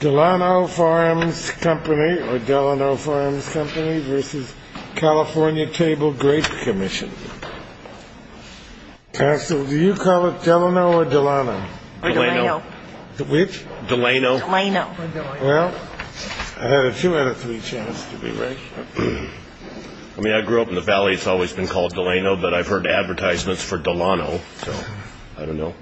Delano Farms Company or Delano Farms Company v. California Table Grape Commission Council, do you call it Delano or Delano? Delano. Which? Delano. Delano. Well, I had a two out of three chance to be right. I mean, I grew up in the Valley, it's always been called Delano, but I've heard advertisements for Delano, so I don't know.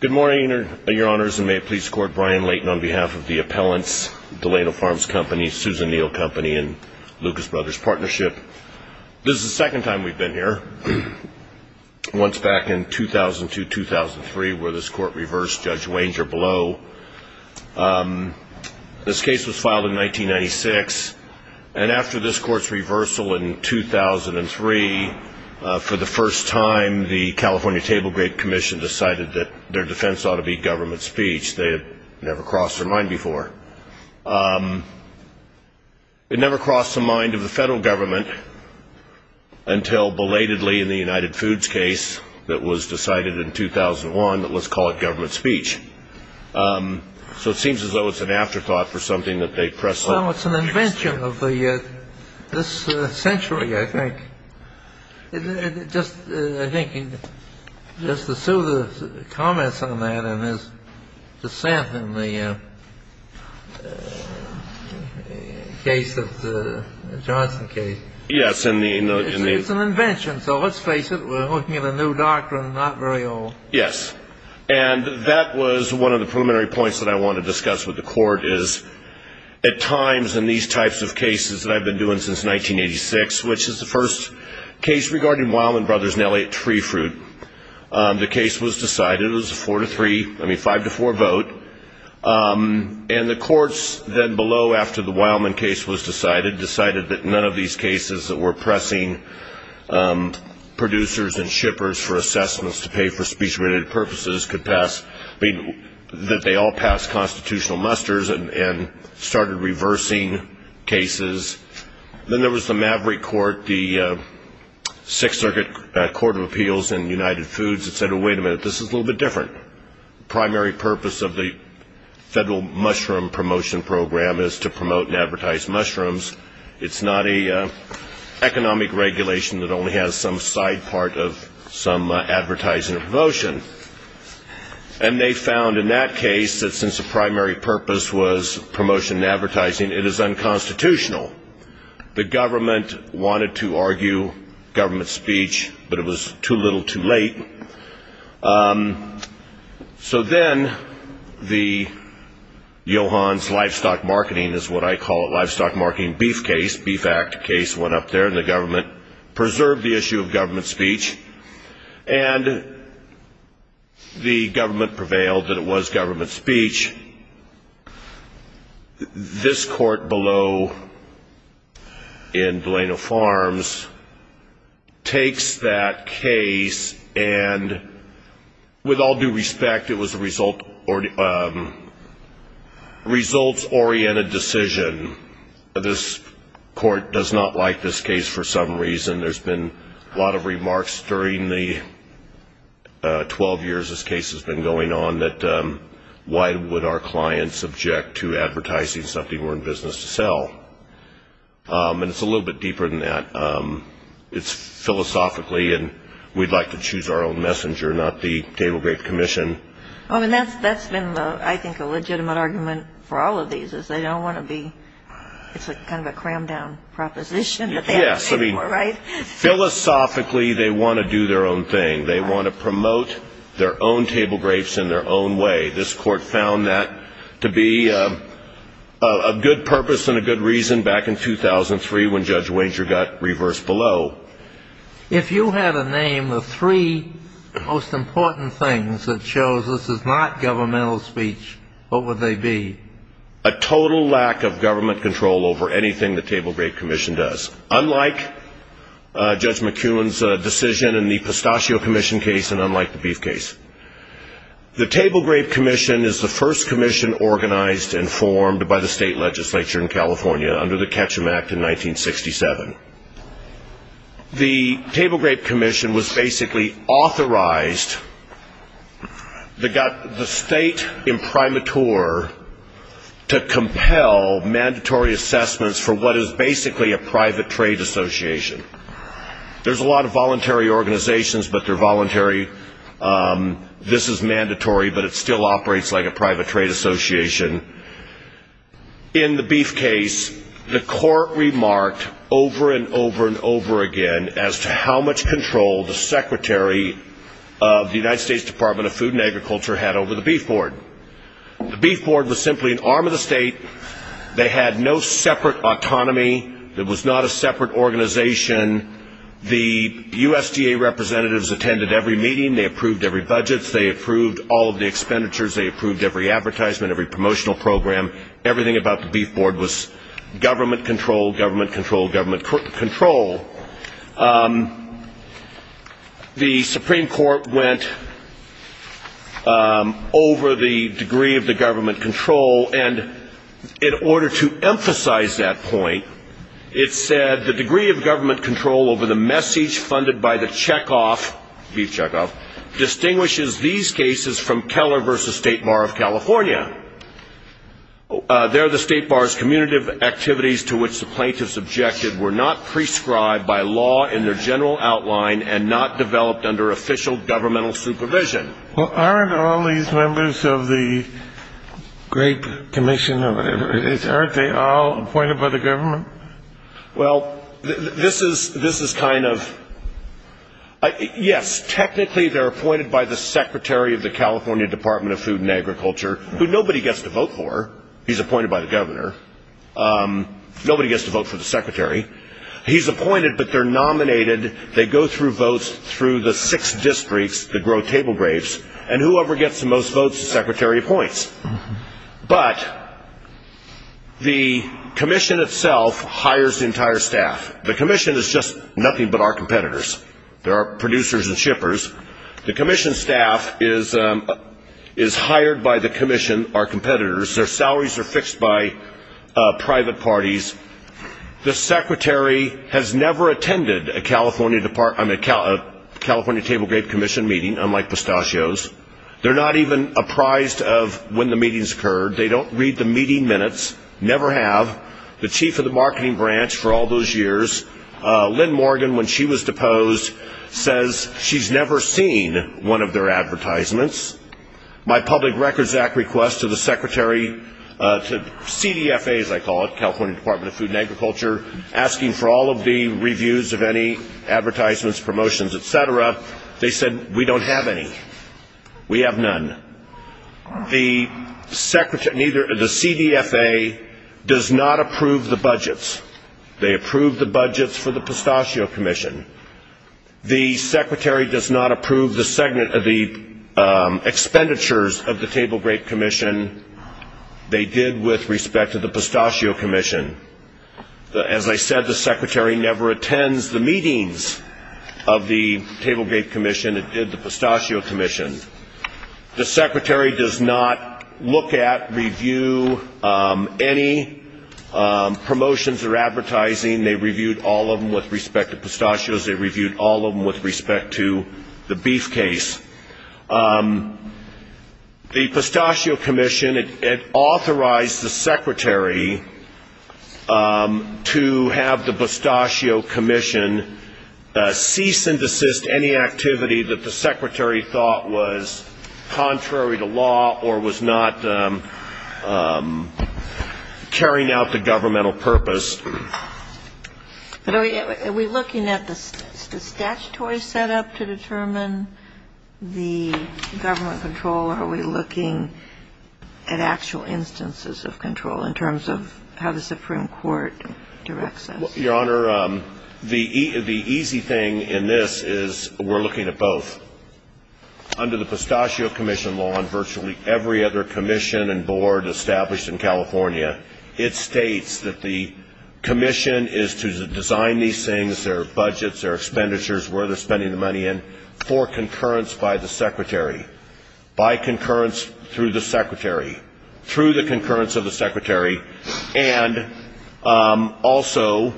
Good morning, Your Honors, and may it please the Court, Brian Layton on behalf of the appellants, Delano Farms Company, Susan Neal Company, and Lucas Brothers Partnership. This is the second time we've been here. Once back in 2002-2003 where this Court reversed Judge Wanger Blow. This case was filed in 1996, and after this Court's reversal in 2003, for the first time, the California Table Grape Commission decided that their defense ought to be government speech. They had never crossed their mind before. It never crossed the mind of the federal government until belatedly in the United Foods case that was decided in 2001. Let's call it government speech. So it seems as though it's an afterthought for something that they press on. Well, it's an invention of this century, I think. Just to sue the comments on that and his dissent in the case of the Johnson case. Yes. It's an invention, so let's face it, we're looking at a new doctrine, not very old. Yes. And that was one of the preliminary points that I wanted to discuss with the Court, is at times in these types of cases that I've been doing since 1986, which is the first case regarding Wildman Brothers in L.A. at Tree Fruit, the case was decided. It was a 4-3, I mean 5-4 vote. And the courts then below, after the Wildman case was decided, decided that none of these cases that were pressing producers and shippers for assessments to pay for speech-related purposes could pass, that they all pass constitutional musters and started reversing cases. Then there was the Maverick Court, the Sixth Circuit Court of Appeals in United Foods that said, wait a minute, this is a little bit different. The primary purpose of the federal mushroom promotion program is to promote and advertise mushrooms. It's not an economic regulation that only has some side part of some advertising or promotion. And they found in that case that since the primary purpose was promotion and advertising, it is unconstitutional. The government wanted to argue government speech, but it was too little too late. So then the Johans Livestock Marketing, is what I call it, Livestock Marketing Beef case, Beef Act case, went up there, and the government preserved the issue of government speech, and the government prevailed that it was government speech. This court below in Delano Farms takes that case, and with all due respect, it was a results-oriented decision. This court does not like this case for some reason. There's been a lot of remarks during the 12 years this case has been going on that, why would our clients object to advertising something we're in business to sell? And it's a little bit deeper than that. It's philosophically, and we'd like to choose our own messenger, not the Table Grape Commission. That's been, I think, a legitimate argument for all of these, is they don't want to be, it's kind of a crammed-down proposition. Yes, I mean, philosophically, they want to do their own thing. They want to promote their own table grapes in their own way. This court found that to be a good purpose and a good reason back in 2003 when Judge Wenger got reversed below. If you had a name, the three most important things that shows this is not governmental speech, what would they be? A total lack of government control over anything the Table Grape Commission does, unlike Judge McEwen's decision in the Pistachio Commission case and unlike the Beef case. The Table Grape Commission is the first commission organized and formed by the state legislature in California under the Ketchum Act in 1967. The Table Grape Commission was basically authorized, the state imprimatur, to compel mandatory assessments for what is basically a private trade association. There's a lot of voluntary organizations, but they're voluntary. This is mandatory, but it still operates like a private trade association. In the Beef case, the court remarked over and over and over again as to how much control the secretary of the United States Department of Food and Agriculture had over the Beef Board. The Beef Board was simply an arm of the state. They had no separate autonomy. It was not a separate organization. The USDA representatives attended every meeting. They approved every budget. They approved all of the expenditures. They approved every advertisement, every promotional program. Everything about the Beef Board was government control, government control, government control. The Supreme Court went over the degree of the government control, and in order to emphasize that point, it said the degree of government control over the message funded by the checkoff, Beef checkoff, distinguishes these cases from Keller v. State Bar of California. There, the State Bar's commutative activities to which the plaintiffs objected were not prescribed by law in their general outline and not developed under official governmental supervision. Well, aren't all these members of the Great Commission, aren't they all appointed by the government? Well, this is kind of, yes, technically they're appointed by the secretary of the California Department of Food and Agriculture, who nobody gets to vote for. He's appointed by the governor. Nobody gets to vote for the secretary. He's appointed, but they're nominated. They go through votes through the six districts that grow table grapes, and whoever gets the most votes, the secretary appoints. But the commission itself hires the entire staff. The commission is just nothing but our competitors. There are producers and shippers. The commission staff is hired by the commission, our competitors. Their salaries are fixed by private parties. The secretary has never attended a California Table Grape Commission meeting, unlike pistachios. They're not even apprised of when the meetings occurred. They don't read the meeting minutes, never have. The chief of the marketing branch for all those years, Lynn Morgan, when she was deposed, says she's never seen one of their advertisements. My Public Records Act request to the secretary, to CDFA, as I call it, California Department of Food and Agriculture, asking for all of the reviews of any advertisements, promotions, et cetera, they said, we don't have any. We have none. The CDFA does not approve the budgets. They approve the budgets for the Pistachio Commission. The secretary does not approve the expenditures of the Table Grape Commission. They did with respect to the Pistachio Commission. As I said, the secretary never attends the meetings of the Table Grape Commission. It did the Pistachio Commission. The secretary does not look at, review any promotions or advertising. They reviewed all of them with respect to pistachios. They reviewed all of them with respect to the beef case. The Pistachio Commission, it authorized the secretary to have the Pistachio Commission cease and desist any activity that the secretary thought was contrary to law or was not carrying out the governmental purpose. Are we looking at the statutory setup to determine the government control, or are we looking at actual instances of control in terms of how the Supreme Court directs us? Your Honor, the easy thing in this is we're looking at both. Under the Pistachio Commission law, and virtually every other commission and board established in California, it states that the commission is to design these things, their budgets, their expenditures, where they're spending the money in, for concurrence by the secretary, by concurrence through the secretary, through the concurrence of the secretary, and also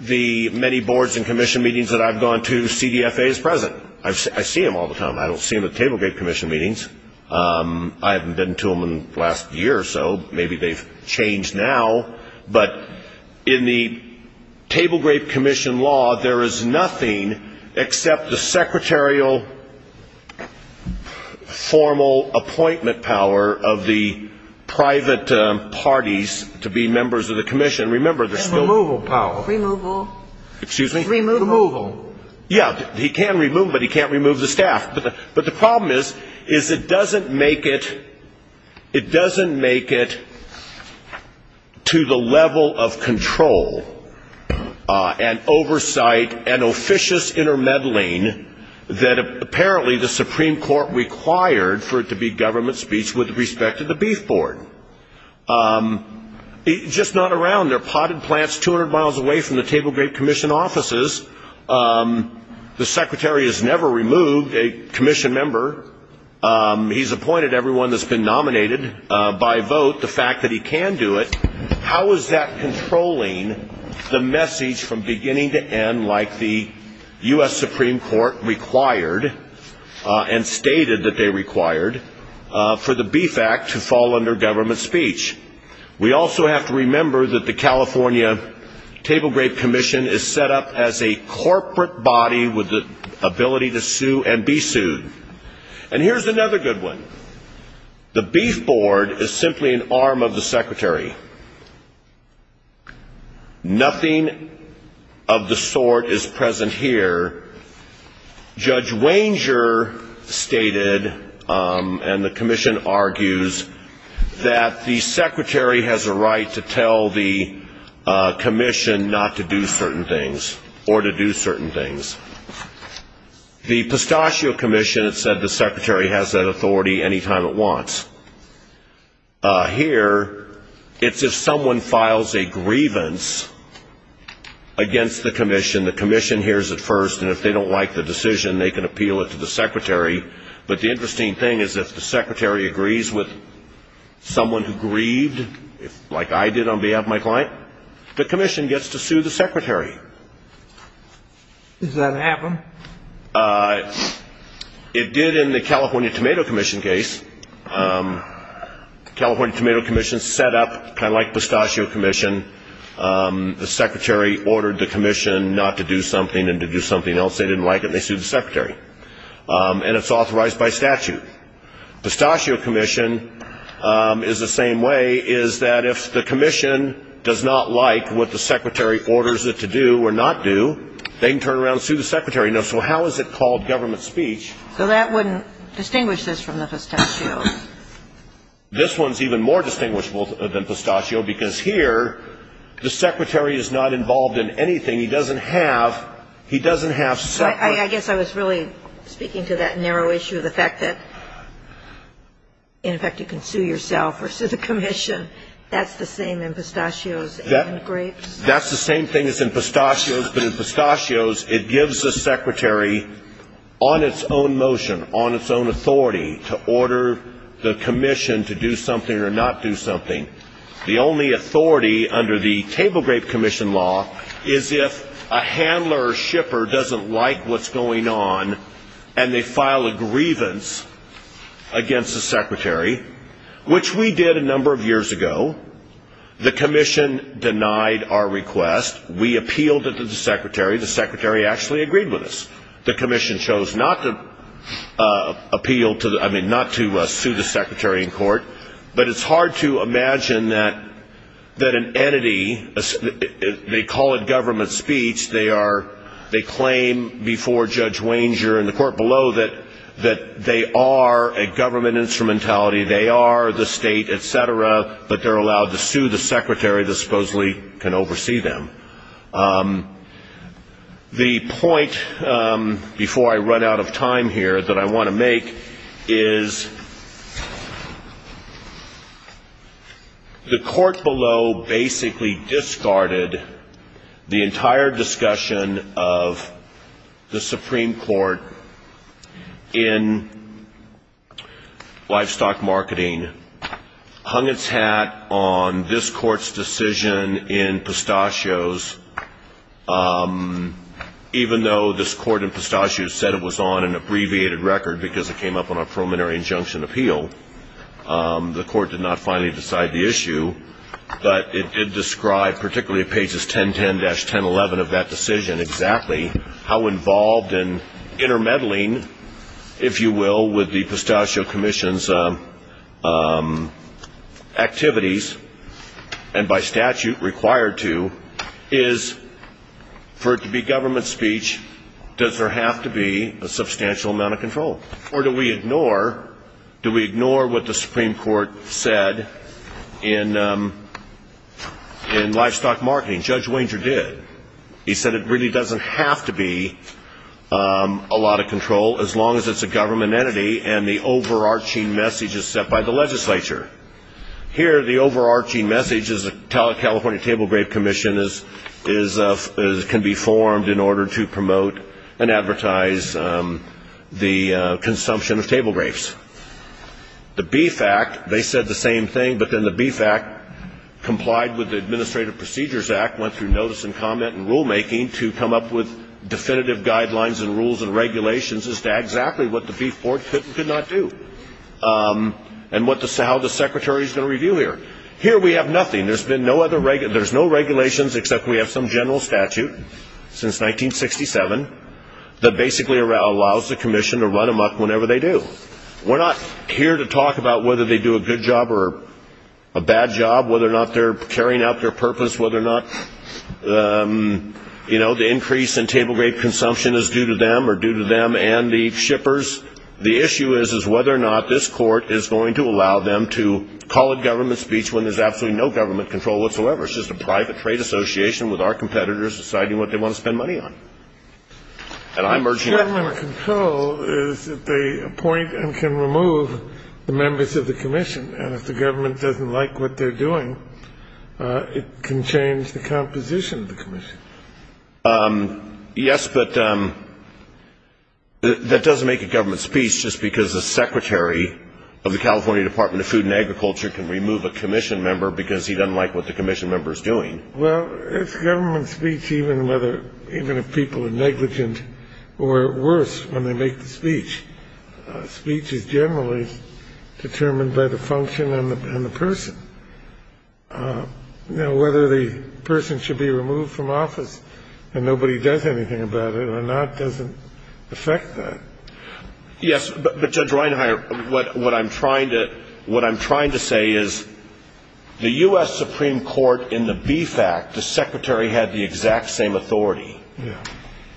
the many boards and commission meetings that I've gone to, CDFA is present. I see them all the time. I don't see them at the Table Grape Commission meetings. I haven't been to them in the last year or so. Maybe they've changed now. But in the Table Grape Commission law, there is nothing except the secretarial formal appointment power of the private parties to be members of the commission. Remember, there's still the removal power. Removal. Excuse me? Removal. Yeah. He can remove them, but he can't remove the staff. But the problem is, is it doesn't make it to the level of control and oversight and officious intermeddling that apparently the Supreme Court required for it to be government speech with respect to the Beef Board. It's just not around. They're potted plants 200 miles away from the Table Grape Commission offices. The secretary has never removed a commission member. He's appointed everyone that's been nominated by vote, the fact that he can do it. How is that controlling the message from beginning to end like the U.S. Supreme Court required and stated that they required for the Beef Act to fall under government speech? We also have to remember that the California Table Grape Commission is set up as a corporate body with the ability to sue and be sued. And here's another good one. The Beef Board is simply an arm of the secretary. Nothing of the sort is present here. Judge Wanger stated, and the commission argues, that the secretary has a right to tell the commission not to do certain things or to do certain things. The Pistachio Commission has said the secretary has that authority any time it wants. Here, it's if someone files a grievance against the commission, then the commission hears it first, and if they don't like the decision, they can appeal it to the secretary. But the interesting thing is if the secretary agrees with someone who grieved, like I did on behalf of my client, the commission gets to sue the secretary. Does that happen? It did in the California Tomato Commission case. The California Tomato Commission is set up kind of like the Pistachio Commission. The secretary ordered the commission not to do something and to do something else. They didn't like it, and they sued the secretary. And it's authorized by statute. Pistachio Commission is the same way, is that if the commission does not like what the secretary orders it to do or not do, they can turn around and sue the secretary. Now, so how is it called government speech? So that wouldn't distinguish this from the pistachios? This one's even more distinguishable than pistachio because here, the secretary is not involved in anything. He doesn't have separate. I guess I was really speaking to that narrow issue of the fact that, in effect, you can sue yourself or sue the commission. That's the same in pistachios and grapes. That's the same thing as in pistachios, but in pistachios, it gives the secretary, on its own motion, on its own authority, to order the commission to do something or not do something. The only authority under the Table Grape Commission law is if a handler or shipper doesn't like what's going on and they file a grievance against the secretary, which we did a number of years ago. The commission denied our request. We appealed it to the secretary. The secretary actually agreed with us. The commission chose not to appeal, I mean, not to sue the secretary in court, but it's hard to imagine that an entity, they call it government speech, they claim before Judge Wanger and the court below that they are a government instrumentality, they are the state, et cetera, but they're allowed to sue the secretary that supposedly can oversee them. The point, before I run out of time here, that I want to make is the court below basically discarded the entire discussion of the Supreme Court in livestock marketing, hung its hat on this court's decision in pistachios, even though this court in pistachios said it was on an abbreviated record because it came up on a preliminary injunction appeal. The court did not finally decide the issue, but it did describe, particularly pages 1010-1011 of that decision exactly, how involved in intermeddling, if you will, with the pistachio commission's activities and by statute required to is for it to be government speech, does there have to be a substantial amount of control? Or do we ignore what the Supreme Court said in livestock marketing? Judge Wanger did. He said it really doesn't have to be a lot of control as long as it's a government entity and the overarching message is set by the legislature. Here the overarching message is the California Table Grave Commission can be formed in order to promote and advertise the consumption of table grapes. The Beef Act, they said the same thing, but then the Beef Act complied with the Administrative Procedures Act, went through notice and comment and rulemaking to come up with definitive guidelines and rules and regulations as to exactly what the Beef Board could and could not do and how the Secretary is going to review here. Here we have nothing. There's no regulations except we have some general statute since 1967 that basically allows the commission to run them up whenever they do. We're not here to talk about whether they do a good job or a bad job, whether or not they're carrying out their purpose, whether or not the increase in table grape consumption is due to them or due to them and the shippers. The issue is whether or not this court is going to allow them to call a government speech when there's absolutely no government control whatsoever. It's just a private trade association with our competitors deciding what they want to spend money on. And I'm urging that. The government control is that they appoint and can remove the members of the commission, and if the government doesn't like what they're doing, it can change the composition of the commission. Yes, but that doesn't make a government speech just because the Secretary of the California Department of Food and Agriculture can remove a commission member because he doesn't like what the commission member is doing. Well, it's government speech even if people are negligent or worse when they make the speech. Speech is generally determined by the function and the person. You know, whether the person should be removed from office and nobody does anything about it or not doesn't affect that. Yes, but Judge Reinhart, what I'm trying to say is the U.S. Supreme Court in the BFAC, the secretary had the exact same authority.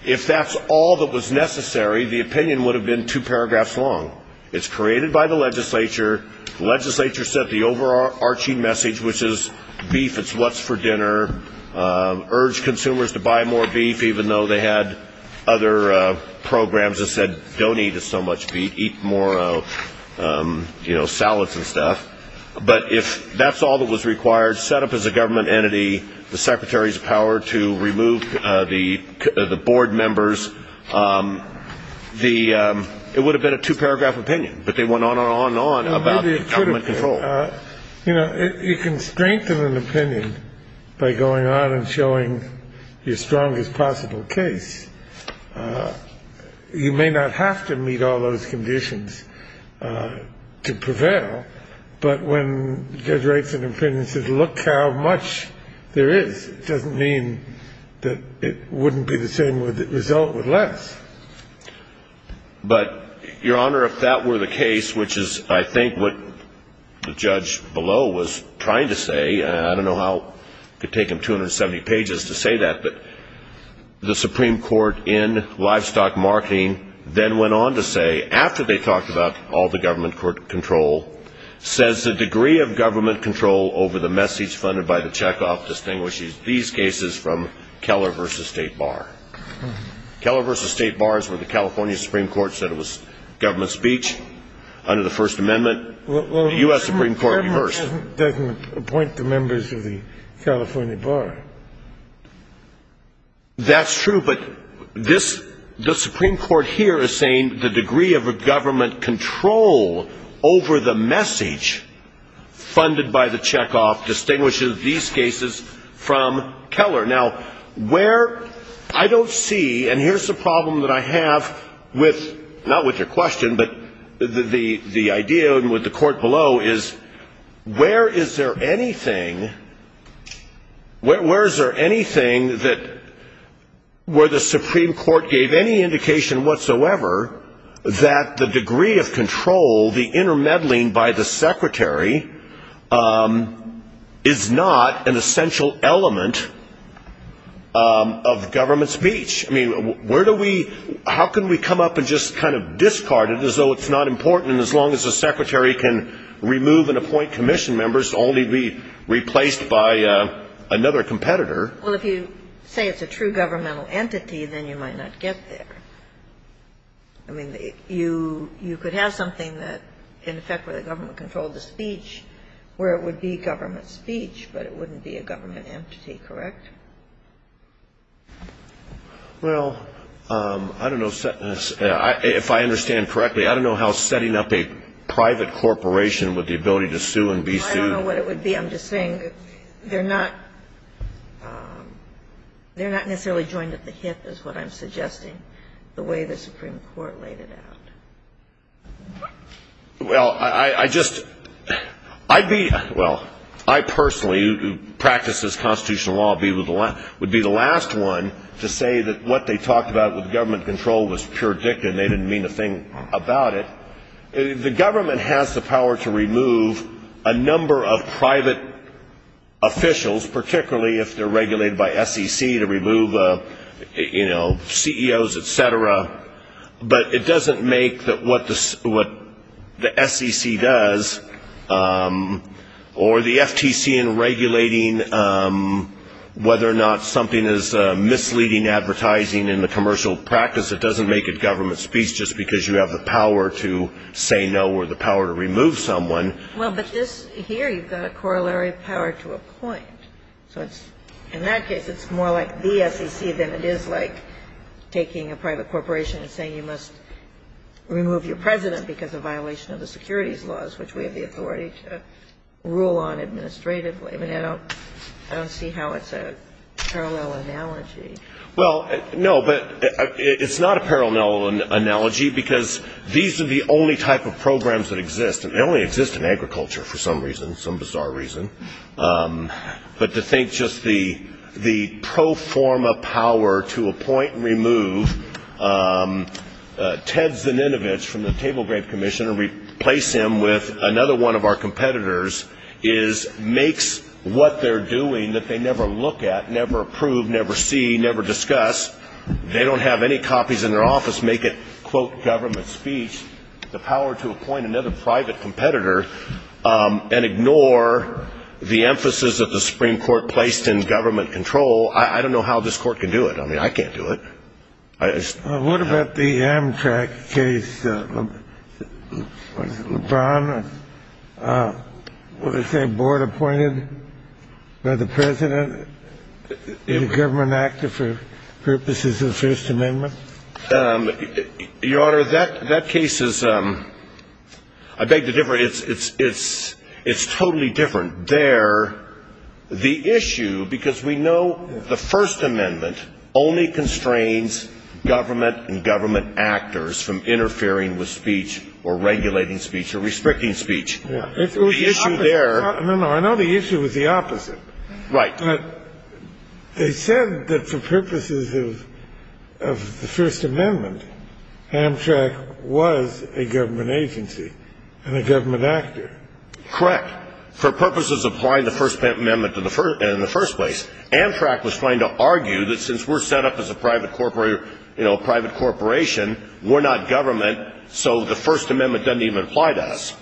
If that's all that was necessary, the opinion would have been two paragraphs long. It's created by the legislature. The legislature sent the overarching message, which is beef, it's what's for dinner, urged consumers to buy more beef even though they had other programs that said don't eat so much beef, eat more salads and stuff. But if that's all that was required, set up as a government entity, the secretary's power to remove the board members, it would have been a two-paragraph opinion, but they went on and on and on about government control. You know, you can strengthen an opinion by going on and showing your strongest possible case. You may not have to meet all those conditions to prevail, but when the judge writes an opinion and says look how much there is, it doesn't mean that it wouldn't be the same result with less. But, Your Honor, if that were the case, which is I think what the judge below was trying to say, I don't know how it could take him 270 pages to say that, but the Supreme Court in livestock marketing then went on to say, after they talked about all the government control, says the degree of government control over the message funded by the checkoff distinguishes these cases from Keller v. State Bar. Keller v. State Bar is where the California Supreme Court said it was government speech under the First Amendment. The U.S. Supreme Court reversed. The government doesn't appoint the members of the California Bar. That's true, but this, the Supreme Court here is saying the degree of government control over the message funded by the checkoff distinguishes these cases from Keller. Now, where, I don't see, and here's the problem that I have with, not with your question, but the idea with the court below is, where is there anything, where is there anything that, where the Supreme Court gave any indication whatsoever that the degree of control, the intermeddling by the secretary, is not an essential element of government speech? I mean, where do we, how can we come up and just kind of discard it as though it's not important as long as the secretary can remove and appoint commission members to only be replaced by another competitor? Well, if you say it's a true governmental entity, then you might not get there. I mean, you could have something that, in effect, where the government controlled the speech, where it would be government speech, but it wouldn't be a government entity, correct? Well, I don't know, if I understand correctly, I don't know how setting up a private corporation with the ability to sue and be sued. I don't know what it would be. I'm just saying they're not necessarily joined at the hip, is what I'm suggesting, the way the Supreme Court laid it out. Well, I just, I'd be, well, I personally, who practices constitutional law, would be the last one to say that what they talked about with government control was pure dictum, they didn't mean a thing about it. The government has the power to remove a number of private officials, particularly if they're regulated by SEC, to remove, you know, CEOs, et cetera, but it doesn't make what the SEC does, or the FTC in regulating whether or not something is misleading advertising in the commercial practice, it doesn't make it government speech just because you have the power to say no or the power to remove someone. Well, but this, here, you've got a corollary power to appoint, so in that case it's more like the SEC than it is like taking a private corporation and saying you must remove your president because of violation of the securities laws, which we have the authority to rule on administratively. I mean, I don't see how it's a parallel analogy. Well, no, but it's not a parallel analogy, because these are the only type of programs that exist, and they only exist in agriculture for some reason, some bizarre reason, but to think just the pro forma power to appoint and remove Ted Zininovich from the Table Grave Commission and replace him with another one of our competitors is, makes what they're doing that they never look at, never approve, never see, never discuss, they don't have any copies in their office, make it, quote, government speech, the power to appoint another private competitor and ignore the emphasis that the Supreme Court placed in government control, I don't know how this Court can do it. I mean, I can't do it. What about the Amtrak case, LeBron, what did they say, board appointed by the president in a government actor for purposes of the First Amendment? Your Honor, that case is, I beg to differ, it's totally different. There, the issue, because we know the First Amendment only constrains government and government actors from interfering with speech or regulating speech or restricting speech. The issue there. No, no, I know the issue is the opposite. Right. But they said that for purposes of the First Amendment, Amtrak was a government agency and a government actor. Correct. For purposes of applying the First Amendment in the first place. Amtrak was trying to argue that since we're set up as a private corporation, we're not government, so the First Amendment doesn't even apply to us.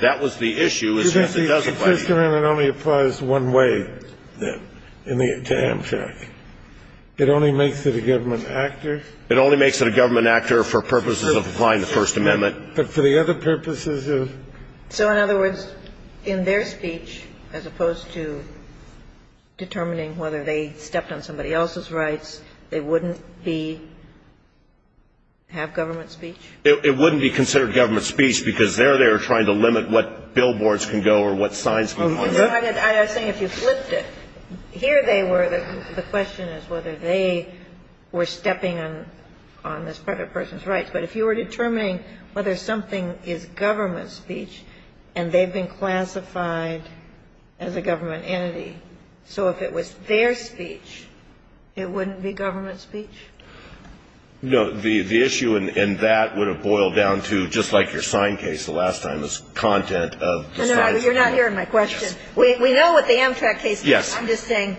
That was the issue. Because the First Amendment only applies one way to Amtrak. It only makes it a government actor. It only makes it a government actor for purposes of applying the First Amendment. But for the other purposes of... So, in other words, in their speech, as opposed to determining whether they stepped on somebody else's rights, they wouldn't be, have government speech? It wouldn't be considered government speech because they're there trying to limit what billboards can go or what signs can go. I was saying if you flipped it, here they were. The question is whether they were stepping on this private person's rights. But if you were determining whether something is government speech and they've been classified as a government entity, so if it was their speech, it wouldn't be government speech? No, the issue in that would have boiled down to, just like your sign case the last time, is content of the sign. You're not hearing my question. We know what the Amtrak case is. I'm just saying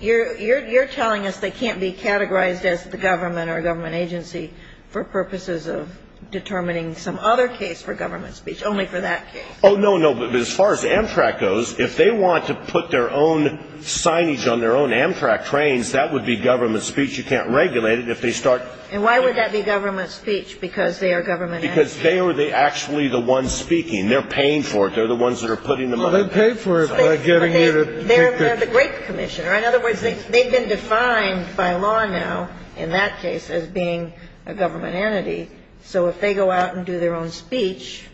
you're telling us they can't be categorized as the government or a government agency for purposes of determining some other case for government speech, only for that case. Oh, no, no, but as far as Amtrak goes, if they want to put their own signage on their own Amtrak trains, that would be government speech. You can't regulate it if they start... And why would that be government speech? Because they are government entities. Because they are actually the ones speaking. They're paying for it. They're the ones that are putting the money. Well, they pay for it by getting you to... They're the great commissioner. In other words, they've been defined by law now, in that case, as being a government entity. So if they go out and do their own speech,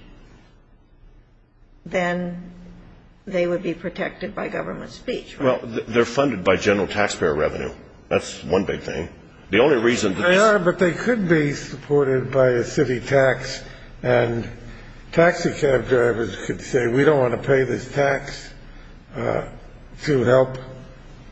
then they would be protected by government speech. Well, they're funded by general taxpayer revenue. That's one big thing. The only reason... They are, but they could be supported by a city tax. And taxi cab drivers could say, we don't want to pay this tax to help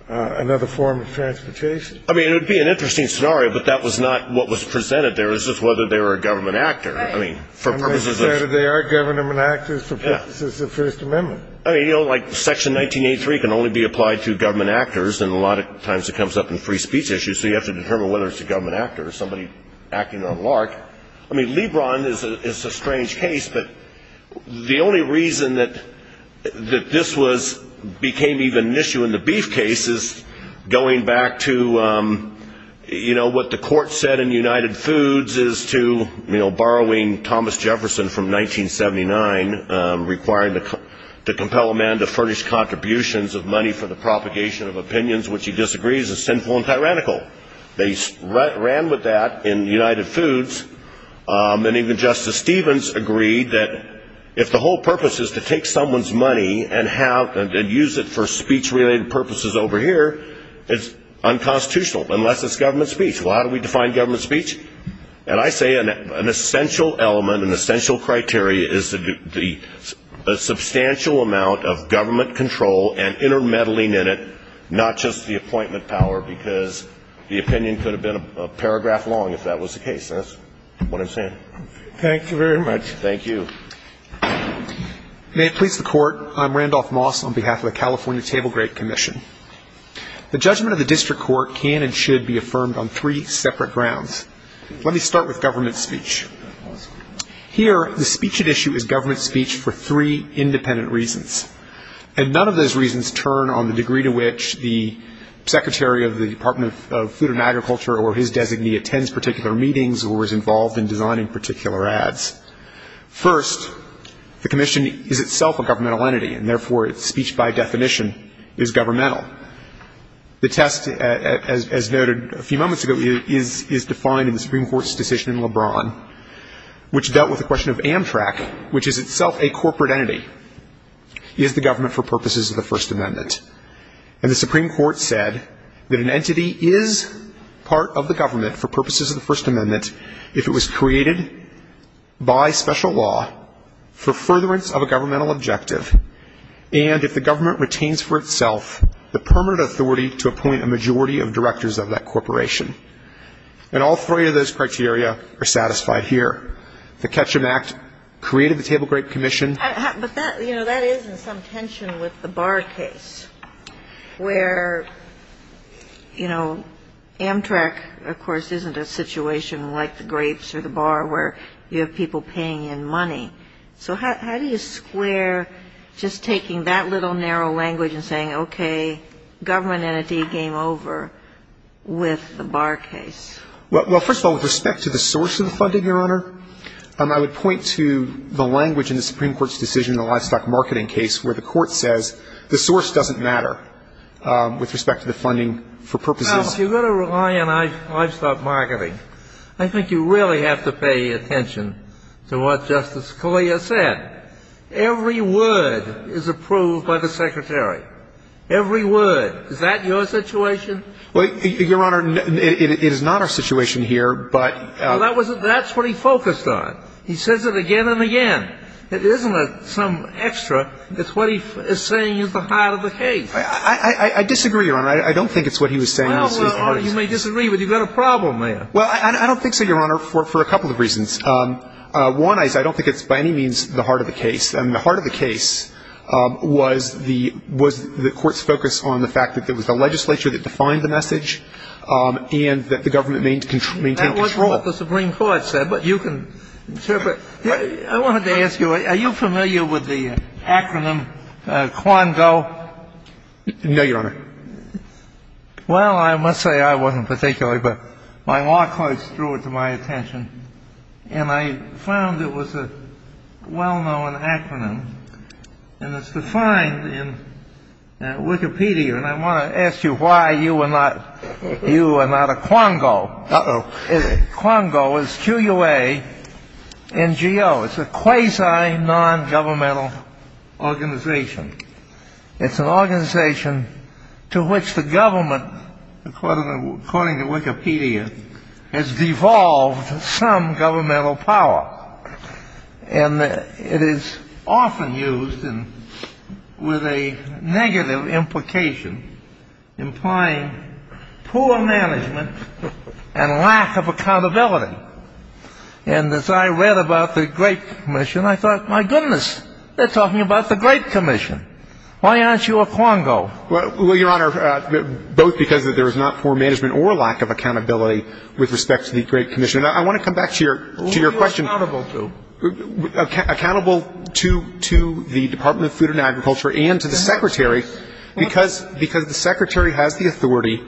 another form of transportation. I mean, it would be an interesting scenario, but that was not what was presented there. It was just whether they were a government actor. I mean, for purposes of... They are government actors for purposes of the First Amendment. Section 1983 can only be applied to government actors, and a lot of times it comes up in free speech issues, so you have to determine whether it's a government actor or somebody acting on LARC. I mean, Lebron is a strange case, but the only reason that this became even an issue in the Beef case is going back to what the court said in United Foods is to, you know, borrowing Thomas Jefferson from 1979, requiring to compel a man to furnish contributions of money for the propagation of opinions which he disagrees is sinful and tyrannical. They ran with that in United Foods, and even Justice Stevens agreed that if the whole purpose is to take someone's money and use it for speech-related purposes over here, it's unconstitutional, unless it's government speech. Well, how do we define government speech? And I say an essential element, an essential criteria is the substantial amount of government control and intermeddling in it, not just the appointment power, because the opinion could have been a paragraph long if that was the case. That's what I'm saying. Thank you very much. Thank you. May it please the Court, I'm Randolph Moss on behalf of the California Table Grade Commission. The judgment of the district court can and should be affirmed on three separate grounds. Let me start with government speech. Here, the speech at issue is government speech for three independent reasons, and none of those reasons turn on the degree to which the secretary of the Department of Food and Agriculture or his designee attends particular meetings or is involved in designing particular ads. First, the commission is itself a governmental entity, and therefore its speech by definition is governmental. The test, as noted a few moments ago, is defined in the Supreme Court's decision in LeBron, which dealt with the question of Amtrak, which is itself a corporate entity. Is the government for purposes of the First Amendment? And the Supreme Court said that an entity is part of the government for purposes of the First Amendment if it was created by special law for furtherance of a governmental objective and if the government retains for itself the permanent authority to appoint a majority of directors of that corporation. And all three of those criteria are satisfied here. The Ketchum Act created the Table Grade Commission. But that, you know, that is in some tension with the Barr case where, you know, Amtrak, of course, isn't a situation like the Grapes or the Barr where you have people paying in money. So how do you square just taking that little narrow language and saying, okay, government entity game over with the Barr case? Well, first of all, with respect to the source of the funding, Your Honor, I would point to the language in the Supreme Court's decision in the livestock marketing case where the Court says the source doesn't matter with respect to the funding for purposes. Now, if you're going to rely on livestock marketing, I think you really have to pay attention to what Justice Scalia said. Every word is approved by the Secretary. Every word. Is that your situation? Well, Your Honor, it is not our situation here, but — Well, that's what he focused on. He says it again and again. It isn't some extra. It's what he is saying is the heart of the case. I disagree, Your Honor. I don't think it's what he was saying. Well, Your Honor, you may disagree, but you've got a problem there. Well, I don't think so, Your Honor, for a couple of reasons. One is I don't think it's by any means the heart of the case. I mean, the heart of the case was the Court's focus on the fact that it was the legislature that defined the message and that the government maintained control. I don't know what the Supreme Court said, but you can interpret. I wanted to ask you, are you familiar with the acronym QUANGO? No, Your Honor. Well, I must say I wasn't particularly, but my law clerks drew it to my attention. And I found it was a well-known acronym, and it's defined in Wikipedia. And I want to ask you why you are not a QUANGO. Uh-oh. QUANGO is Q-U-A-N-G-O. It's a quasi-nongovernmental organization. It's an organization to which the government, according to Wikipedia, has devolved some governmental power. And it is often used with a negative implication, implying poor management and lack of accountability. And as I read about the Great Commission, I thought, my goodness, they're talking about the Great Commission. Why aren't you a QUANGO? Well, Your Honor, both because there is not poor management or lack of accountability with respect to the Great Commission. I want to come back to your question. Who are you accountable to? Accountable to the Department of Food and Agriculture and to the secretary, because the secretary has the authority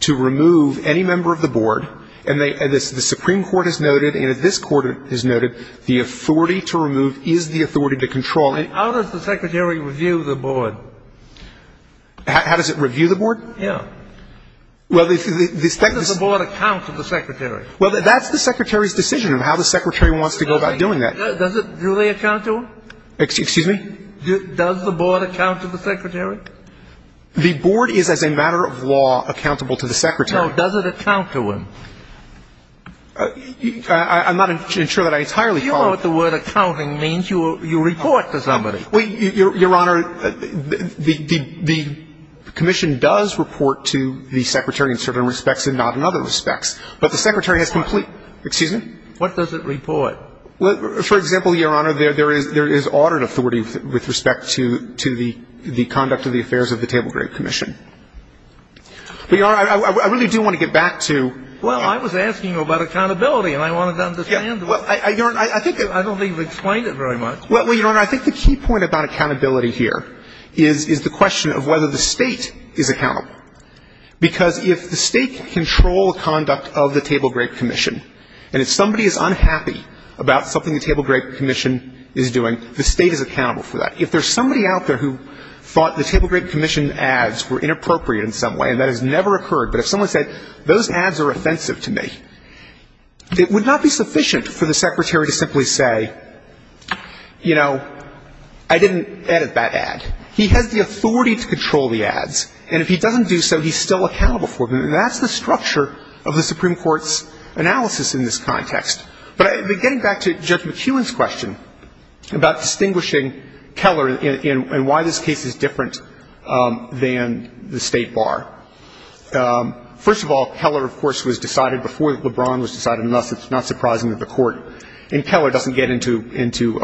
to remove any member of the board. And the Supreme Court has noted, and this Court has noted, the authority to remove is the authority to control. How does the secretary review the board? How does it review the board? Yeah. How does the board account to the secretary? Well, that's the secretary's decision of how the secretary wants to go about doing that. Does it really account to him? Excuse me? Does the board account to the secretary? The board is, as a matter of law, accountable to the secretary. No. Does it account to him? I'm not sure that I entirely follow. Do you know what the word accounting means? You report to somebody. Your Honor, the commission does report to the secretary in certain respects and not in other respects. But the secretary has complete — What? Excuse me? What does it report? For example, Your Honor, there is audit authority with respect to the conduct of the affairs of the Table Group Commission. But, Your Honor, I really do want to get back to — Well, I was asking about accountability, and I wanted to understand. Your Honor, I think — I don't think you've explained it very much. Well, Your Honor, I think the key point about accountability here is the question of whether the State is accountable. Because if the State can control the conduct of the Table Group Commission, and if somebody is unhappy about something the Table Group Commission is doing, the State is accountable for that. If there's somebody out there who thought the Table Group Commission ads were inappropriate in some way, and that has never occurred, but if someone said, those ads are offensive to me, it would not be sufficient for the secretary to simply say, you know, I didn't edit that ad. He has the authority to control the ads. And if he doesn't do so, he's still accountable for them. And that's the structure of the Supreme Court's analysis in this context. But getting back to Judge McKeown's question about distinguishing Keller and why this case is different than the State bar. First of all, Keller, of course, was decided before LeBron was decided, and thus it's not surprising that the Court in Keller doesn't get into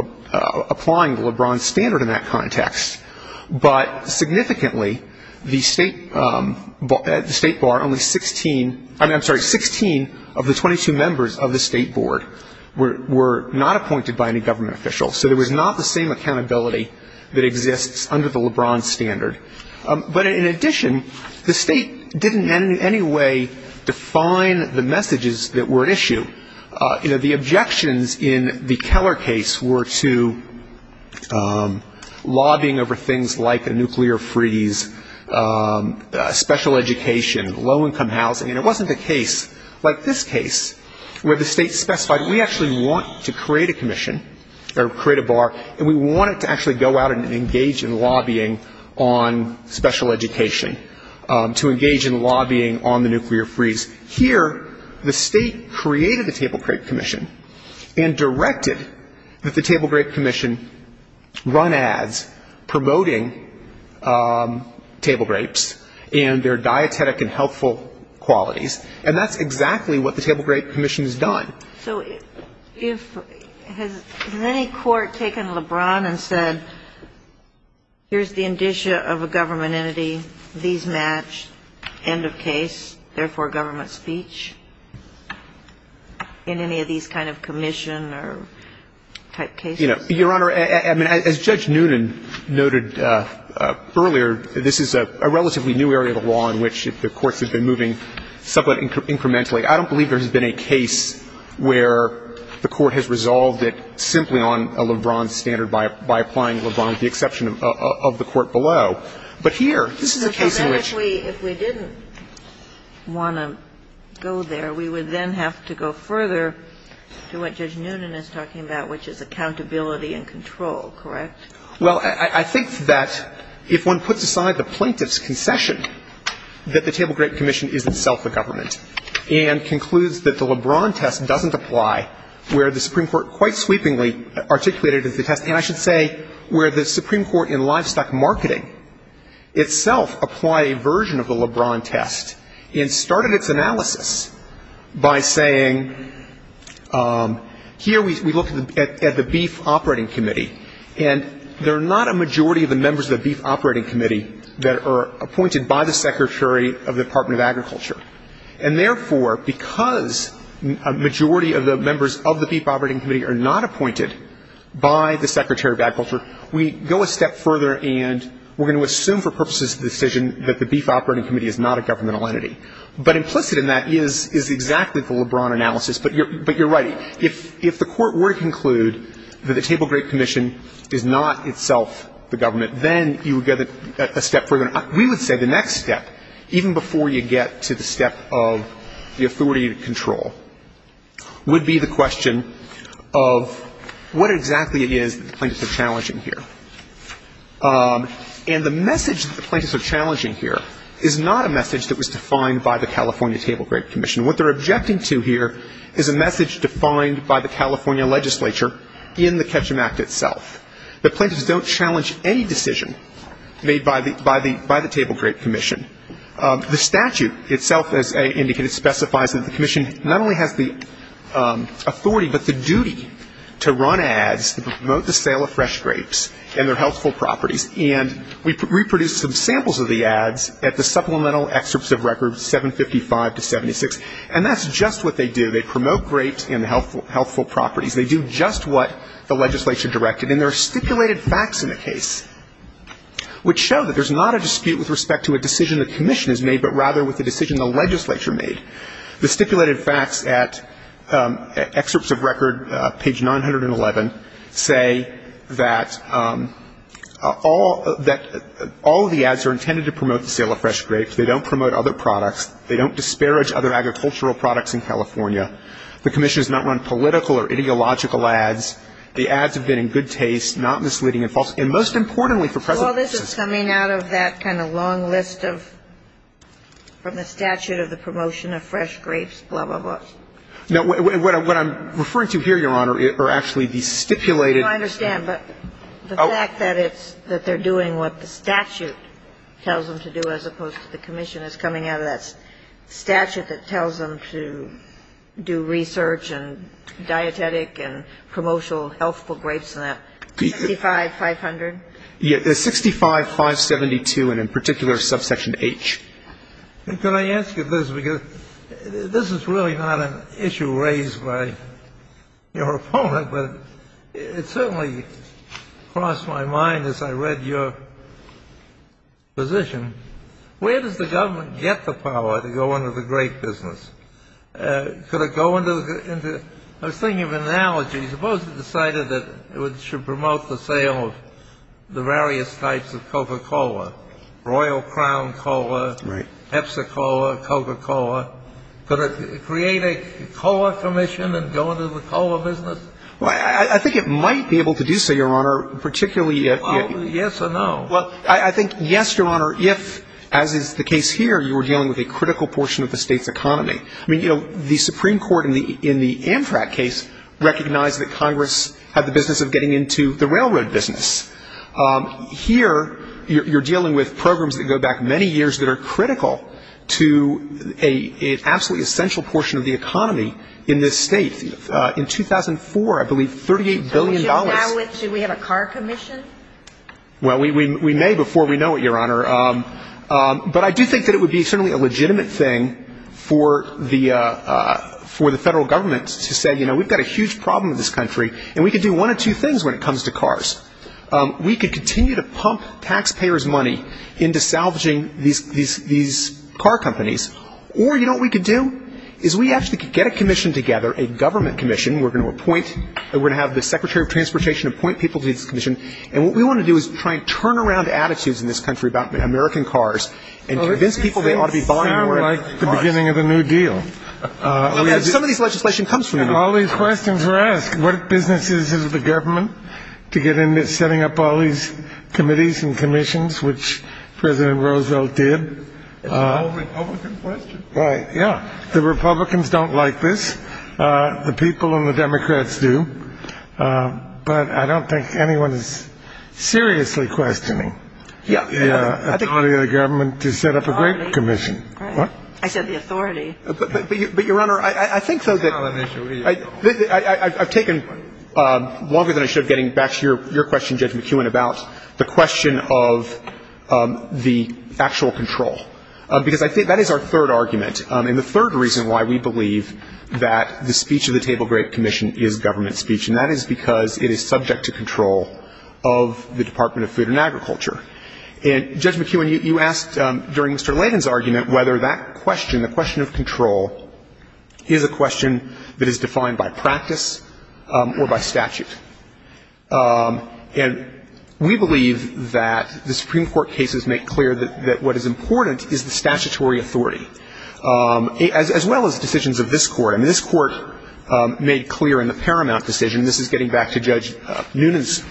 applying the LeBron standard in that context. But significantly, the State bar, only 16 of the 22 members of the State board were not appointed by any government official. So there was not the same accountability that exists under the LeBron standard. But in addition, the State didn't in any way define the messages that were at issue. The objections in the Keller case were to lobbying over things like a nuclear freeze, special education, low-income housing. And it wasn't a case like this case where the State specified, we actually want to create a commission or create a bar, and we want it to actually go out and engage in lobbying on special education, to engage in lobbying on the nuclear freeze. Here, the State created the Table Grape Commission and directed that the Table Grape Commission run ads promoting table grapes and their dietetic and healthful qualities. And that's exactly what the Table Grape Commission has done. So has any court taken LeBron and said, here's the indicia of a government entity, these match, end of case, therefore government speech, in any of these kind of commission or type cases? Your Honor, as Judge Noonan noted earlier, this is a relatively new area of the law in which the courts have been moving somewhat incrementally. I don't believe there has been a case where the Court has resolved it simply on a LeBron standard by applying LeBron, with the exception of the Court below. But here, this is a case in which we – So then if we didn't want to go there, we would then have to go further to what Judge Noonan is talking about, which is accountability and control, correct? Well, I think that if one puts aside the plaintiff's concession, that the Table Grape Commission is itself a government. And concludes that the LeBron test doesn't apply where the Supreme Court quite sweepingly articulated the test. And I should say where the Supreme Court in livestock marketing itself applied a version of the LeBron test and started its analysis by saying, here we look at the Beef Operating Committee. And there are not a majority of the members of the Beef Operating Committee that are appointed by the Secretary of the Department of Agriculture. And therefore, because a majority of the members of the Beef Operating Committee are not appointed by the Secretary of Agriculture, we go a step further and we're going to assume for purposes of the decision that the Beef Operating Committee is not a governmental entity. But implicit in that is exactly the LeBron analysis. But you're right. If the Court were to conclude that the Table Grape Commission is not itself the government, then you would go a step further. We would say the next step, even before you get to the step of the authority to control, would be the question of what exactly it is that the plaintiffs are challenging here. And the message that the plaintiffs are challenging here is not a message that was defined by the California Table Grape Commission. What they're objecting to here is a message defined by the California legislature in the Ketchum Act itself. The plaintiffs don't challenge any decision made by the Table Grape Commission. The statute itself, as indicated, specifies that the commission not only has the authority, but the duty to run ads to promote the sale of fresh grapes and their healthful properties. And we reproduced some samples of the ads at the supplemental excerpts of records 755 to 76. And that's just what they do. They promote grapes and healthful properties. They do just what the legislature directed. And there are stipulated facts in the case, which show that there's not a dispute with respect to a decision the commission has made, but rather with the decision the legislature made. The stipulated facts at excerpts of record, page 911, say that all of the ads are intended to promote the sale of fresh grapes. They don't promote other products. They don't disparage other agricultural products in California. The commission has not run political or ideological ads. The ads have been in good taste, not misleading and false. And most importantly for present purposes. Well, this is coming out of that kind of long list of the statute of the promotion of fresh grapes, blah, blah, blah. No. What I'm referring to here, Your Honor, are actually the stipulated. I understand. But the fact that it's that they're doing what the statute tells them to do as opposed to the commission is coming out of that statute that tells them to do research and dietetic and promotional healthful grapes and that. 65-500? Yeah. 65-572 and in particular subsection H. Can I ask you this? Because this is really not an issue raised by your opponent, but it certainly crossed my mind as I read your position. Where does the government get the power to go into the grape business? Could it go into the ñ I was thinking of an analogy. Suppose it decided that it should promote the sale of the various types of Coca-Cola, Royal Crown Cola, Epsa Cola, Coca-Cola. Could it create a cola commission and go into the cola business? Well, I think it might be able to do so, Your Honor, particularly if ñ Well, yes or no? Well, I think yes, Your Honor, if, as is the case here, you were dealing with a critical portion of the state's economy. I mean, you know, the Supreme Court in the Amtrak case recognized that Congress had the business of getting into the railroad business. Here you're dealing with programs that go back many years that are critical to an absolutely essential portion of the economy in this state. In 2004, I believe, $38 billion ñ Do we have a car commission? Well, we may before we know it, Your Honor. But I do think that it would be certainly a legitimate thing for the federal government to say, you know, we've got a huge problem in this country, and we can do one of two things when it comes to cars. We could continue to pump taxpayers' money into salvaging these car companies, or you know what we could do? Is we actually could get a commission together, a government commission. We're going to appoint ñ we're going to have the Secretary of Transportation appoint people to this commission. And what we want to do is try and turn around attitudes in this country about American cars and convince people they ought to be buying more American cars. Well, it seems like the beginning of the New Deal. Some of this legislation comes from New Deal. All these questions are asked. What business is it of the government to get into setting up all these committees and commissions, which President Roosevelt did? It's a Republican question. Right, yeah. The Republicans don't like this. The people and the Democrats do. But I don't think anyone is seriously questioning the authority of the government to set up a great commission. I said the authority. But, Your Honor, I think so. I've taken longer than I should getting back to your question, Judge McEwen, about the question of the actual control. Because I think that is our third argument and the third reason why we believe that the speech of the Table Great Commission is government speech. And that is because it is subject to control of the Department of Food and Agriculture. And, Judge McEwen, you asked during Mr. Layden's argument whether that question, the question of control, is a question that is defined by practice or by statute. And we believe that the Supreme Court cases make clear that what is important is the statutory authority, as well as decisions of this Court. And this Court made clear in the Paramount decision, and this is getting back to Judge Noonan's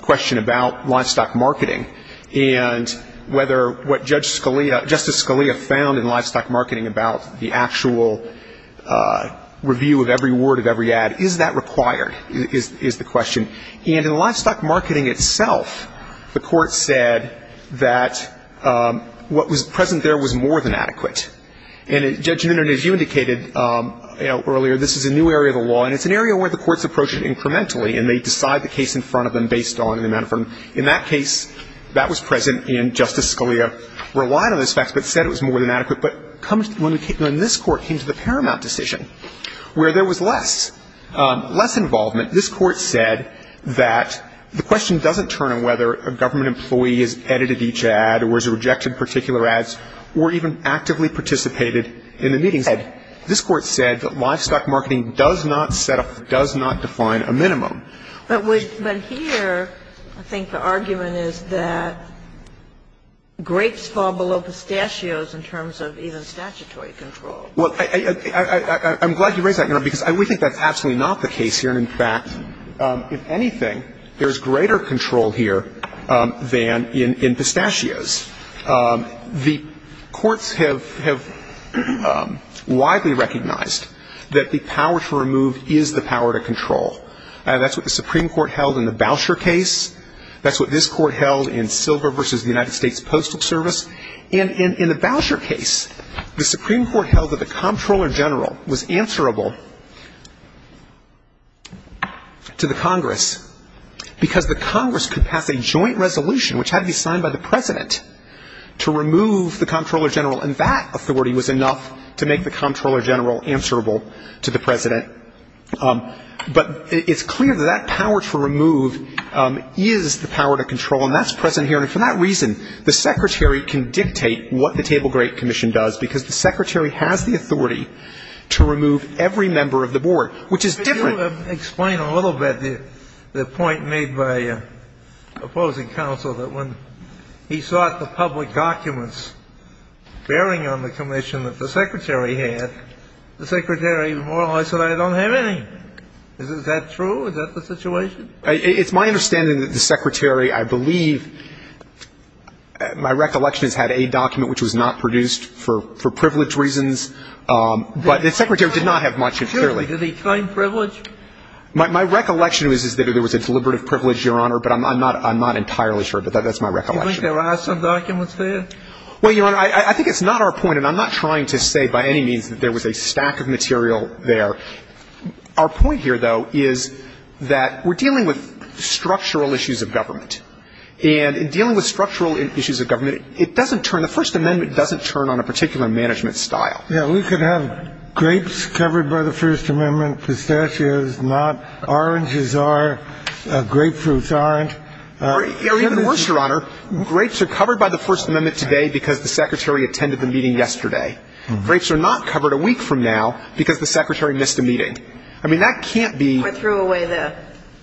question about livestock marketing, and whether what Justice Scalia found in livestock marketing about the actual review of every word of every ad, is that required, is the question. And in livestock marketing itself, the Court said that what was present there was more than adequate. And, Judge Noonan, as you indicated earlier, this is a new area of the law, and it's an area where the courts approach it incrementally, and they decide the case in front of them based on the amount of firm. In that case, that was present, and Justice Scalia relied on those facts but said it was more than adequate. But when this Court came to the Paramount decision, where there was less, less involvement, this Court said that the question doesn't turn on whether a government employee has edited each ad or has rejected particular ads or even actively participated in the meetings. This Court said that livestock marketing does not set up, does not define a minimum. But here, I think the argument is that grapes fall below pistachios in terms of even statutory control. Well, I'm glad you raised that, Your Honor, because we think that's absolutely not the case here. And, in fact, if anything, there's greater control here than in pistachios. The courts have widely recognized that the power to remove is the power to control. That's what the Supreme Court held in the Boucher case. That's what this Court held in Silver v. the United States Postal Service. And in the Boucher case, the Supreme Court held that the Comptroller General was answerable to the Congress because the Congress could pass a joint resolution, which had to be signed by the President, to remove the Comptroller General, and that authority was enough to make the Comptroller General answerable to the President. But it's clear that that power to remove is the power to control, and that's present here. And for that reason, the Secretary can dictate what the Table Grape Commission does, because the Secretary has the authority to remove every member of the Board, which is different. Could you explain a little bit the point made by opposing counsel that when he sought the public documents bearing on the commission that the Secretary had, the Secretary more or less said, I don't have any. Is that true? Is that the situation? It's my understanding that the Secretary, I believe, my recollection is, had a document which was not produced for privilege reasons. But the Secretary did not have much, clearly. Did he claim privilege? My recollection is that there was a deliberative privilege, Your Honor, but I'm not entirely sure. But that's my recollection. Do you think there are some documents there? Well, Your Honor, I think it's not our point, and I'm not trying to say by any means that there was a stack of material there. Our point here, though, is that we're dealing with structural issues of government. And in dealing with structural issues of government, it doesn't turn the First Amendment doesn't turn on a particular management style. Yeah. We could have grapes covered by the First Amendment, pistachios not, oranges are, grapefruits aren't. Or even worse, Your Honor, grapes are covered by the First Amendment today because the Secretary attended the meeting yesterday. Grapes are not covered a week from now because the Secretary missed a meeting. I mean, that can't be. Or threw away the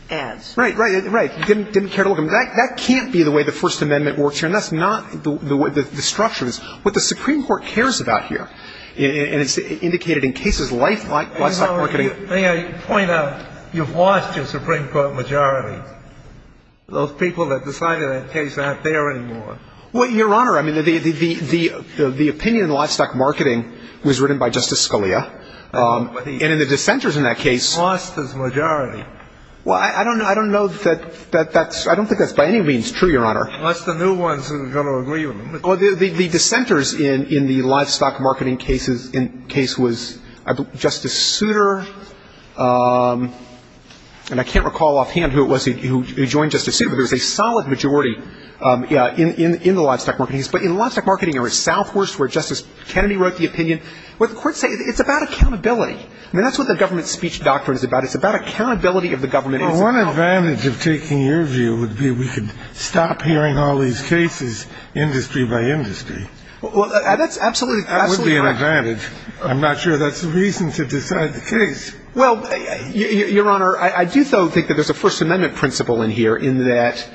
ads. Right, right, right. Didn't care to look at them. That can't be the way the First Amendment works here. And that's not the way the structure is. What the Supreme Court cares about here, and it's indicated in cases like this. I think I point out, you've lost your Supreme Court majority. Those people that decided that case aren't there anymore. Well, Your Honor, I mean, the opinion in livestock marketing was written by Justice Scalia. And in the dissenters in that case. Lost his majority. Well, I don't know that that's by any means true, Your Honor. Unless the new ones are going to agree with me. Well, the dissenters in the livestock marketing case was Justice Souter. And I can't recall offhand who it was who joined Justice Souter, but there was a solid majority in the livestock marketing case. But in livestock marketing, there was Southworth, where Justice Kennedy wrote the opinion. What the courts say, it's about accountability. I mean, that's what the government speech doctrine is about. It's about accountability of the government. Well, one advantage of taking your view would be we could stop hearing all these cases industry by industry. Well, that's absolutely correct. That would be an advantage. I'm not sure that's the reason to decide the case. Well, Your Honor, I do, though, think that there's a First Amendment principle in here, in that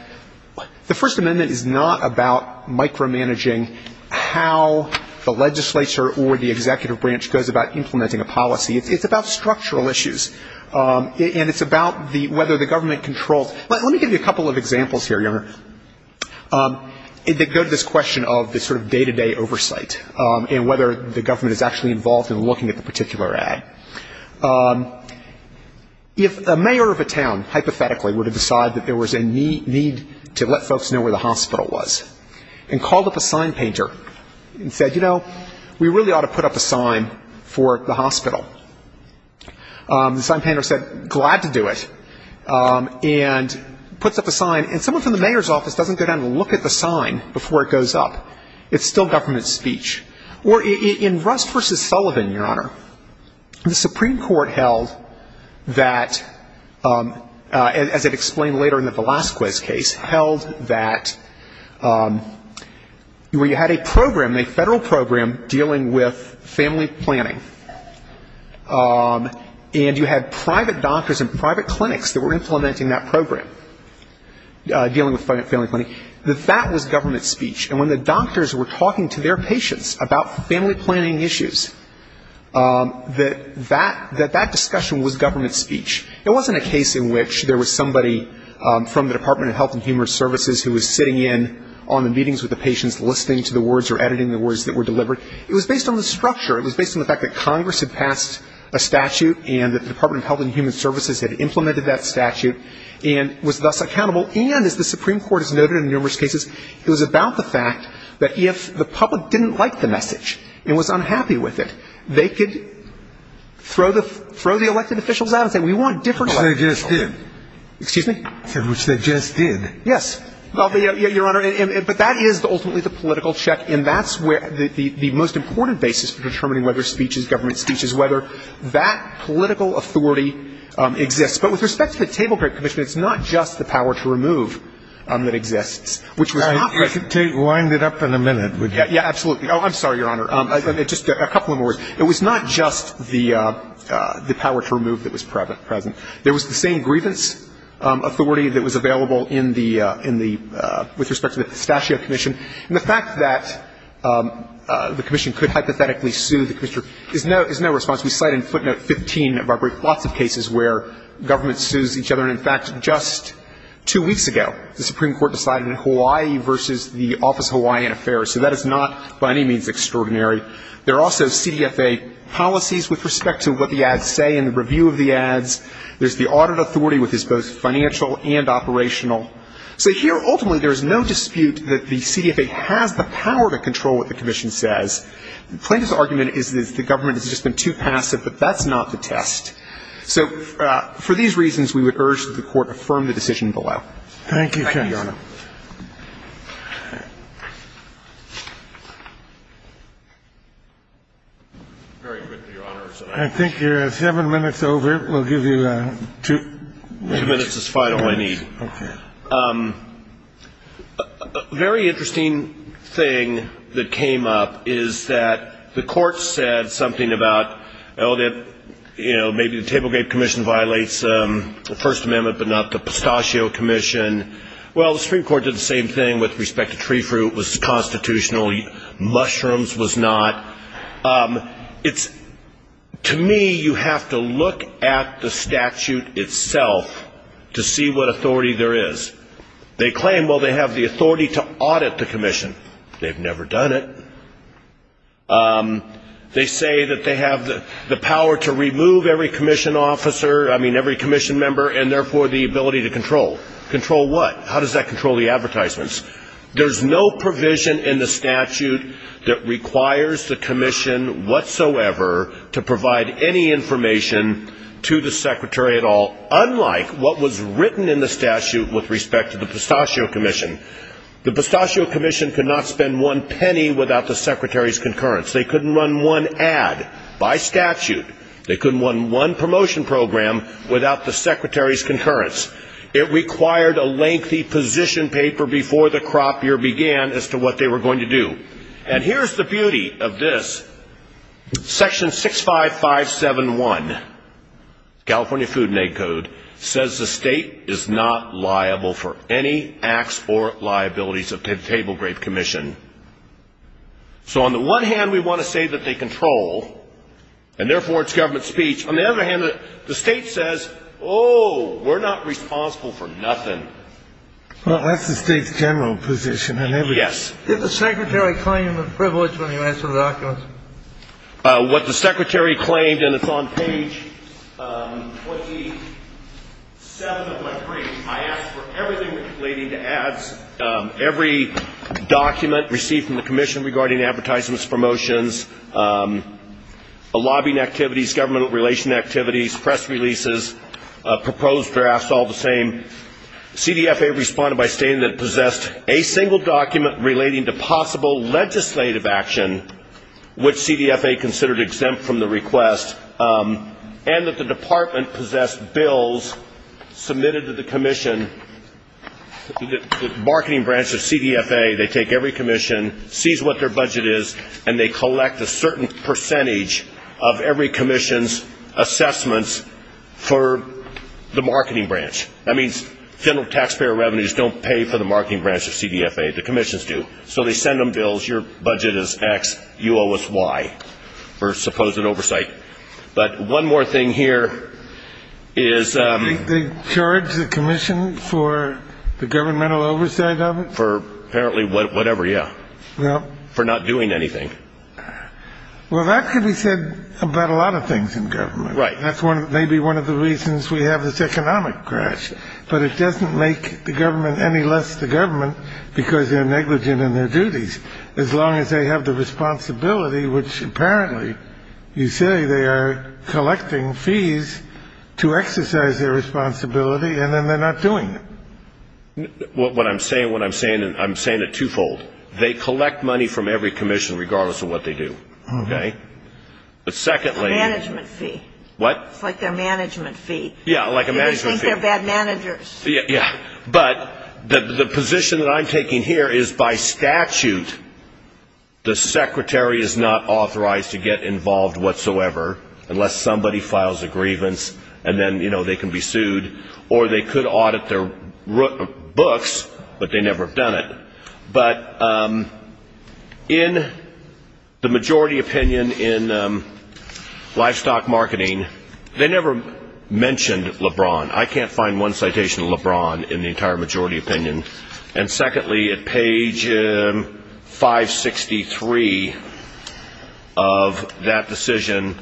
the First Amendment is not about micromanaging how the legislature or the executive branch goes about implementing a policy. It's about structural issues. And it's about whether the government controls. Let me give you a couple of examples here, Your Honor, that go to this question of this sort of day-to-day oversight and whether the government is actually involved in looking at the particular ad. If a mayor of a town, hypothetically, would have decided that there was a need to let folks know where the hospital was and called up a sign painter and said, you know, we really ought to put up a sign for the hospital. The sign painter said, glad to do it, and puts up a sign. And someone from the mayor's office doesn't go down and look at the sign before it goes up. It's still government speech. Or in Rust v. Sullivan, Your Honor, the Supreme Court held that, as it explained later in the Velasquez case, held that where you had a program, a federal program, dealing with family planning, and you had private doctors and private clinics that were implementing that program, dealing with family planning, that that was government speech. And when the doctors were talking to their patients about family planning issues, that that discussion was government speech. It wasn't a case in which there was somebody from the Department of Health and Human Services who was sitting in on the meetings with the patients, listening to the words or editing the words that were delivered. It was based on the structure. It was based on the fact that Congress had passed a statute and that the Department of Health and Human Services had implemented that statute and was thus accountable. And as the Supreme Court has noted in numerous cases, it was about the fact that if the public didn't like the message and was unhappy with it, they could throw the elected officials out and say, we want different elected officials. Scalia. Which they just did. Fisher. Excuse me? Scalia. Which they just did. Fisher. Yes. Well, Your Honor, but that is ultimately the political check, and that's where the most important basis for determining whether speech is government speech is whether that political authority exists. But with respect to the Table Grape Commission, it's not just the power to remove that exists, which was not present. Scalia. I could wind it up in a minute. Fisher. Yes, absolutely. Oh, I'm sorry, Your Honor. Just a couple more words. It was not just the power to remove that was present. There was the same grievance authority that was available in the – with respect to the Pistachio Commission. And the fact that the commission could hypothetically sue the commissioner is no response. We cite in footnote 15 of our lots of cases where government sues each other. And, in fact, just two weeks ago, the Supreme Court decided in Hawaii versus the Office of Hawaiian Affairs. So that is not by any means extraordinary. There are also CDFA policies with respect to what the ads say and the review of the ads. There's the audit authority, which is both financial and operational. So here, ultimately, there is no dispute that the CDFA has the power to control what the commission says. Plaintiff's argument is that the government has just been too passive, but that's not the test. So for these reasons, we would urge that the Court affirm the decision below. Thank you, Your Honor. Thank you, Your Honor. Very good, Your Honor. I think you're seven minutes over. We'll give you two minutes. Two minutes is final, I need. Okay. A very interesting thing that came up is that the Court said something about, you know, maybe the table grape commission violates the First Amendment, but not the pistachio commission. Well, the Supreme Court did the same thing with respect to tree fruit. It was constitutional. Mushrooms was not. It's, to me, you have to look at the statute itself to see what authority there is. They claim, well, they have the authority to audit the commission. They've never done it. They say that they have the power to remove every commission officer, I mean, every commission member, and therefore the ability to control. Control what? How does that control the advertisements? There's no provision in the statute that requires the commission whatsoever to provide any information to the secretary at all, unlike what was written in the statute with respect to the pistachio commission. The pistachio commission could not spend one penny without the secretary's concurrence. They couldn't run one ad by statute. They couldn't run one promotion program without the secretary's concurrence. It required a lengthy position paper before the crop year began as to what they were going to do. And here's the beauty of this. Section 65571, California Food and Ag Code, says the state is not liable for any acts or liabilities of the table grape commission. So on the one hand, we want to say that they control, and therefore it's government speech. On the other hand, the state says, oh, we're not responsible for nothing. Well, that's the state's general position on everything. Yes. Did the secretary claim the privilege when he asked for the documents? What the secretary claimed, and it's on page 27 of my brief, I asked for everything relating to ads, every document received from the commission regarding advertisements, promotions, lobbying activities, government relation activities, press releases, proposed drafts, all the same. CDFA responded by stating that it possessed a single document relating to possible legislative action, which CDFA considered exempt from the request, and that the department possessed bills submitted to the commission. The marketing branch of CDFA, they take every commission, sees what their budget is, and they collect a certain percentage of every commission's assessments for the marketing branch. That means federal taxpayer revenues don't pay for the marketing branch of CDFA. The commissions do. So they send them bills. Your budget is X. You owe us Y for supposed oversight. But one more thing here is they charge the commission for the governmental oversight of it? For apparently whatever, yeah, for not doing anything. Well, that could be said about a lot of things in government. Right. That's maybe one of the reasons we have this economic crash, but it doesn't make the government any less the government because they're negligent in their duties. As long as they have the responsibility, which apparently you say they are collecting fees to exercise their responsibility, and then they're not doing it. What I'm saying, what I'm saying, I'm saying it twofold. They collect money from every commission regardless of what they do. Okay. But secondly. A management fee. What? It's like their management fee. Yeah, like a management fee. They think they're bad managers. Yeah. But the position that I'm taking here is by statute the secretary is not authorized to get involved whatsoever, unless somebody files a grievance, and then they can be sued. Or they could audit their books, but they never have done it. But in the majority opinion in livestock marketing, they never mentioned LeBron. I can't find one citation of LeBron in the entire majority opinion. And secondly, at page 563 of that decision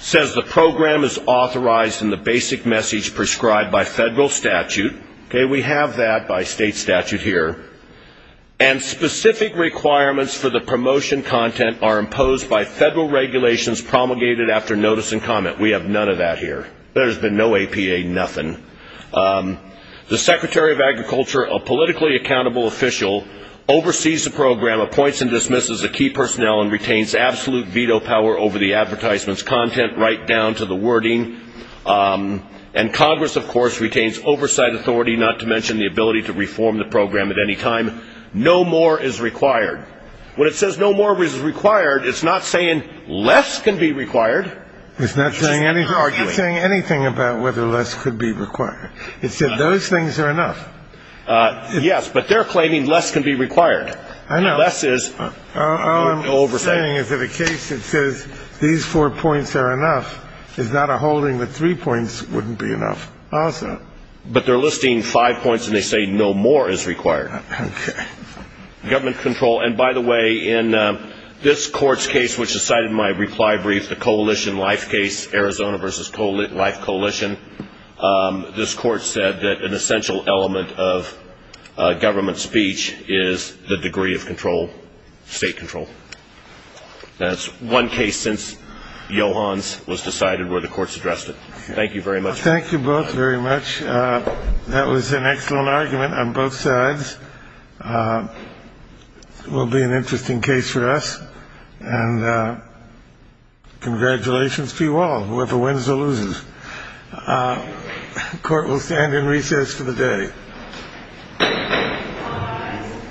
says the program is authorized in the basic message prescribed by federal statute. Okay. We have that by state statute here. And specific requirements for the promotion content are imposed by federal regulations promulgated after notice and comment. We have none of that here. There's been no APA, nothing. The secretary of agriculture, a politically accountable official, oversees the program, appoints and dismisses the key personnel, and retains absolute veto power over the advertisement's content right down to the wording. And Congress, of course, retains oversight authority, not to mention the ability to reform the program at any time. No more is required. When it says no more is required, it's not saying less can be required. It's not saying anything about whether less could be required. It said those things are enough. Yes, but they're claiming less can be required. Less is oversight. All I'm saying is that a case that says these four points are enough is not a holding that three points wouldn't be enough also. But they're listing five points, and they say no more is required. Okay. Government control. And, by the way, in this court's case, which is cited in my reply brief, the coalition life case, Arizona versus life coalition, this court said that an essential element of government speech is the degree of control, state control. That's one case since Johans was decided where the courts addressed it. Thank you very much. Thank you both very much. That was an excellent argument on both sides. It will be an interesting case for us. And congratulations to you all. Whoever wins or loses, the court will stand in recess for the day.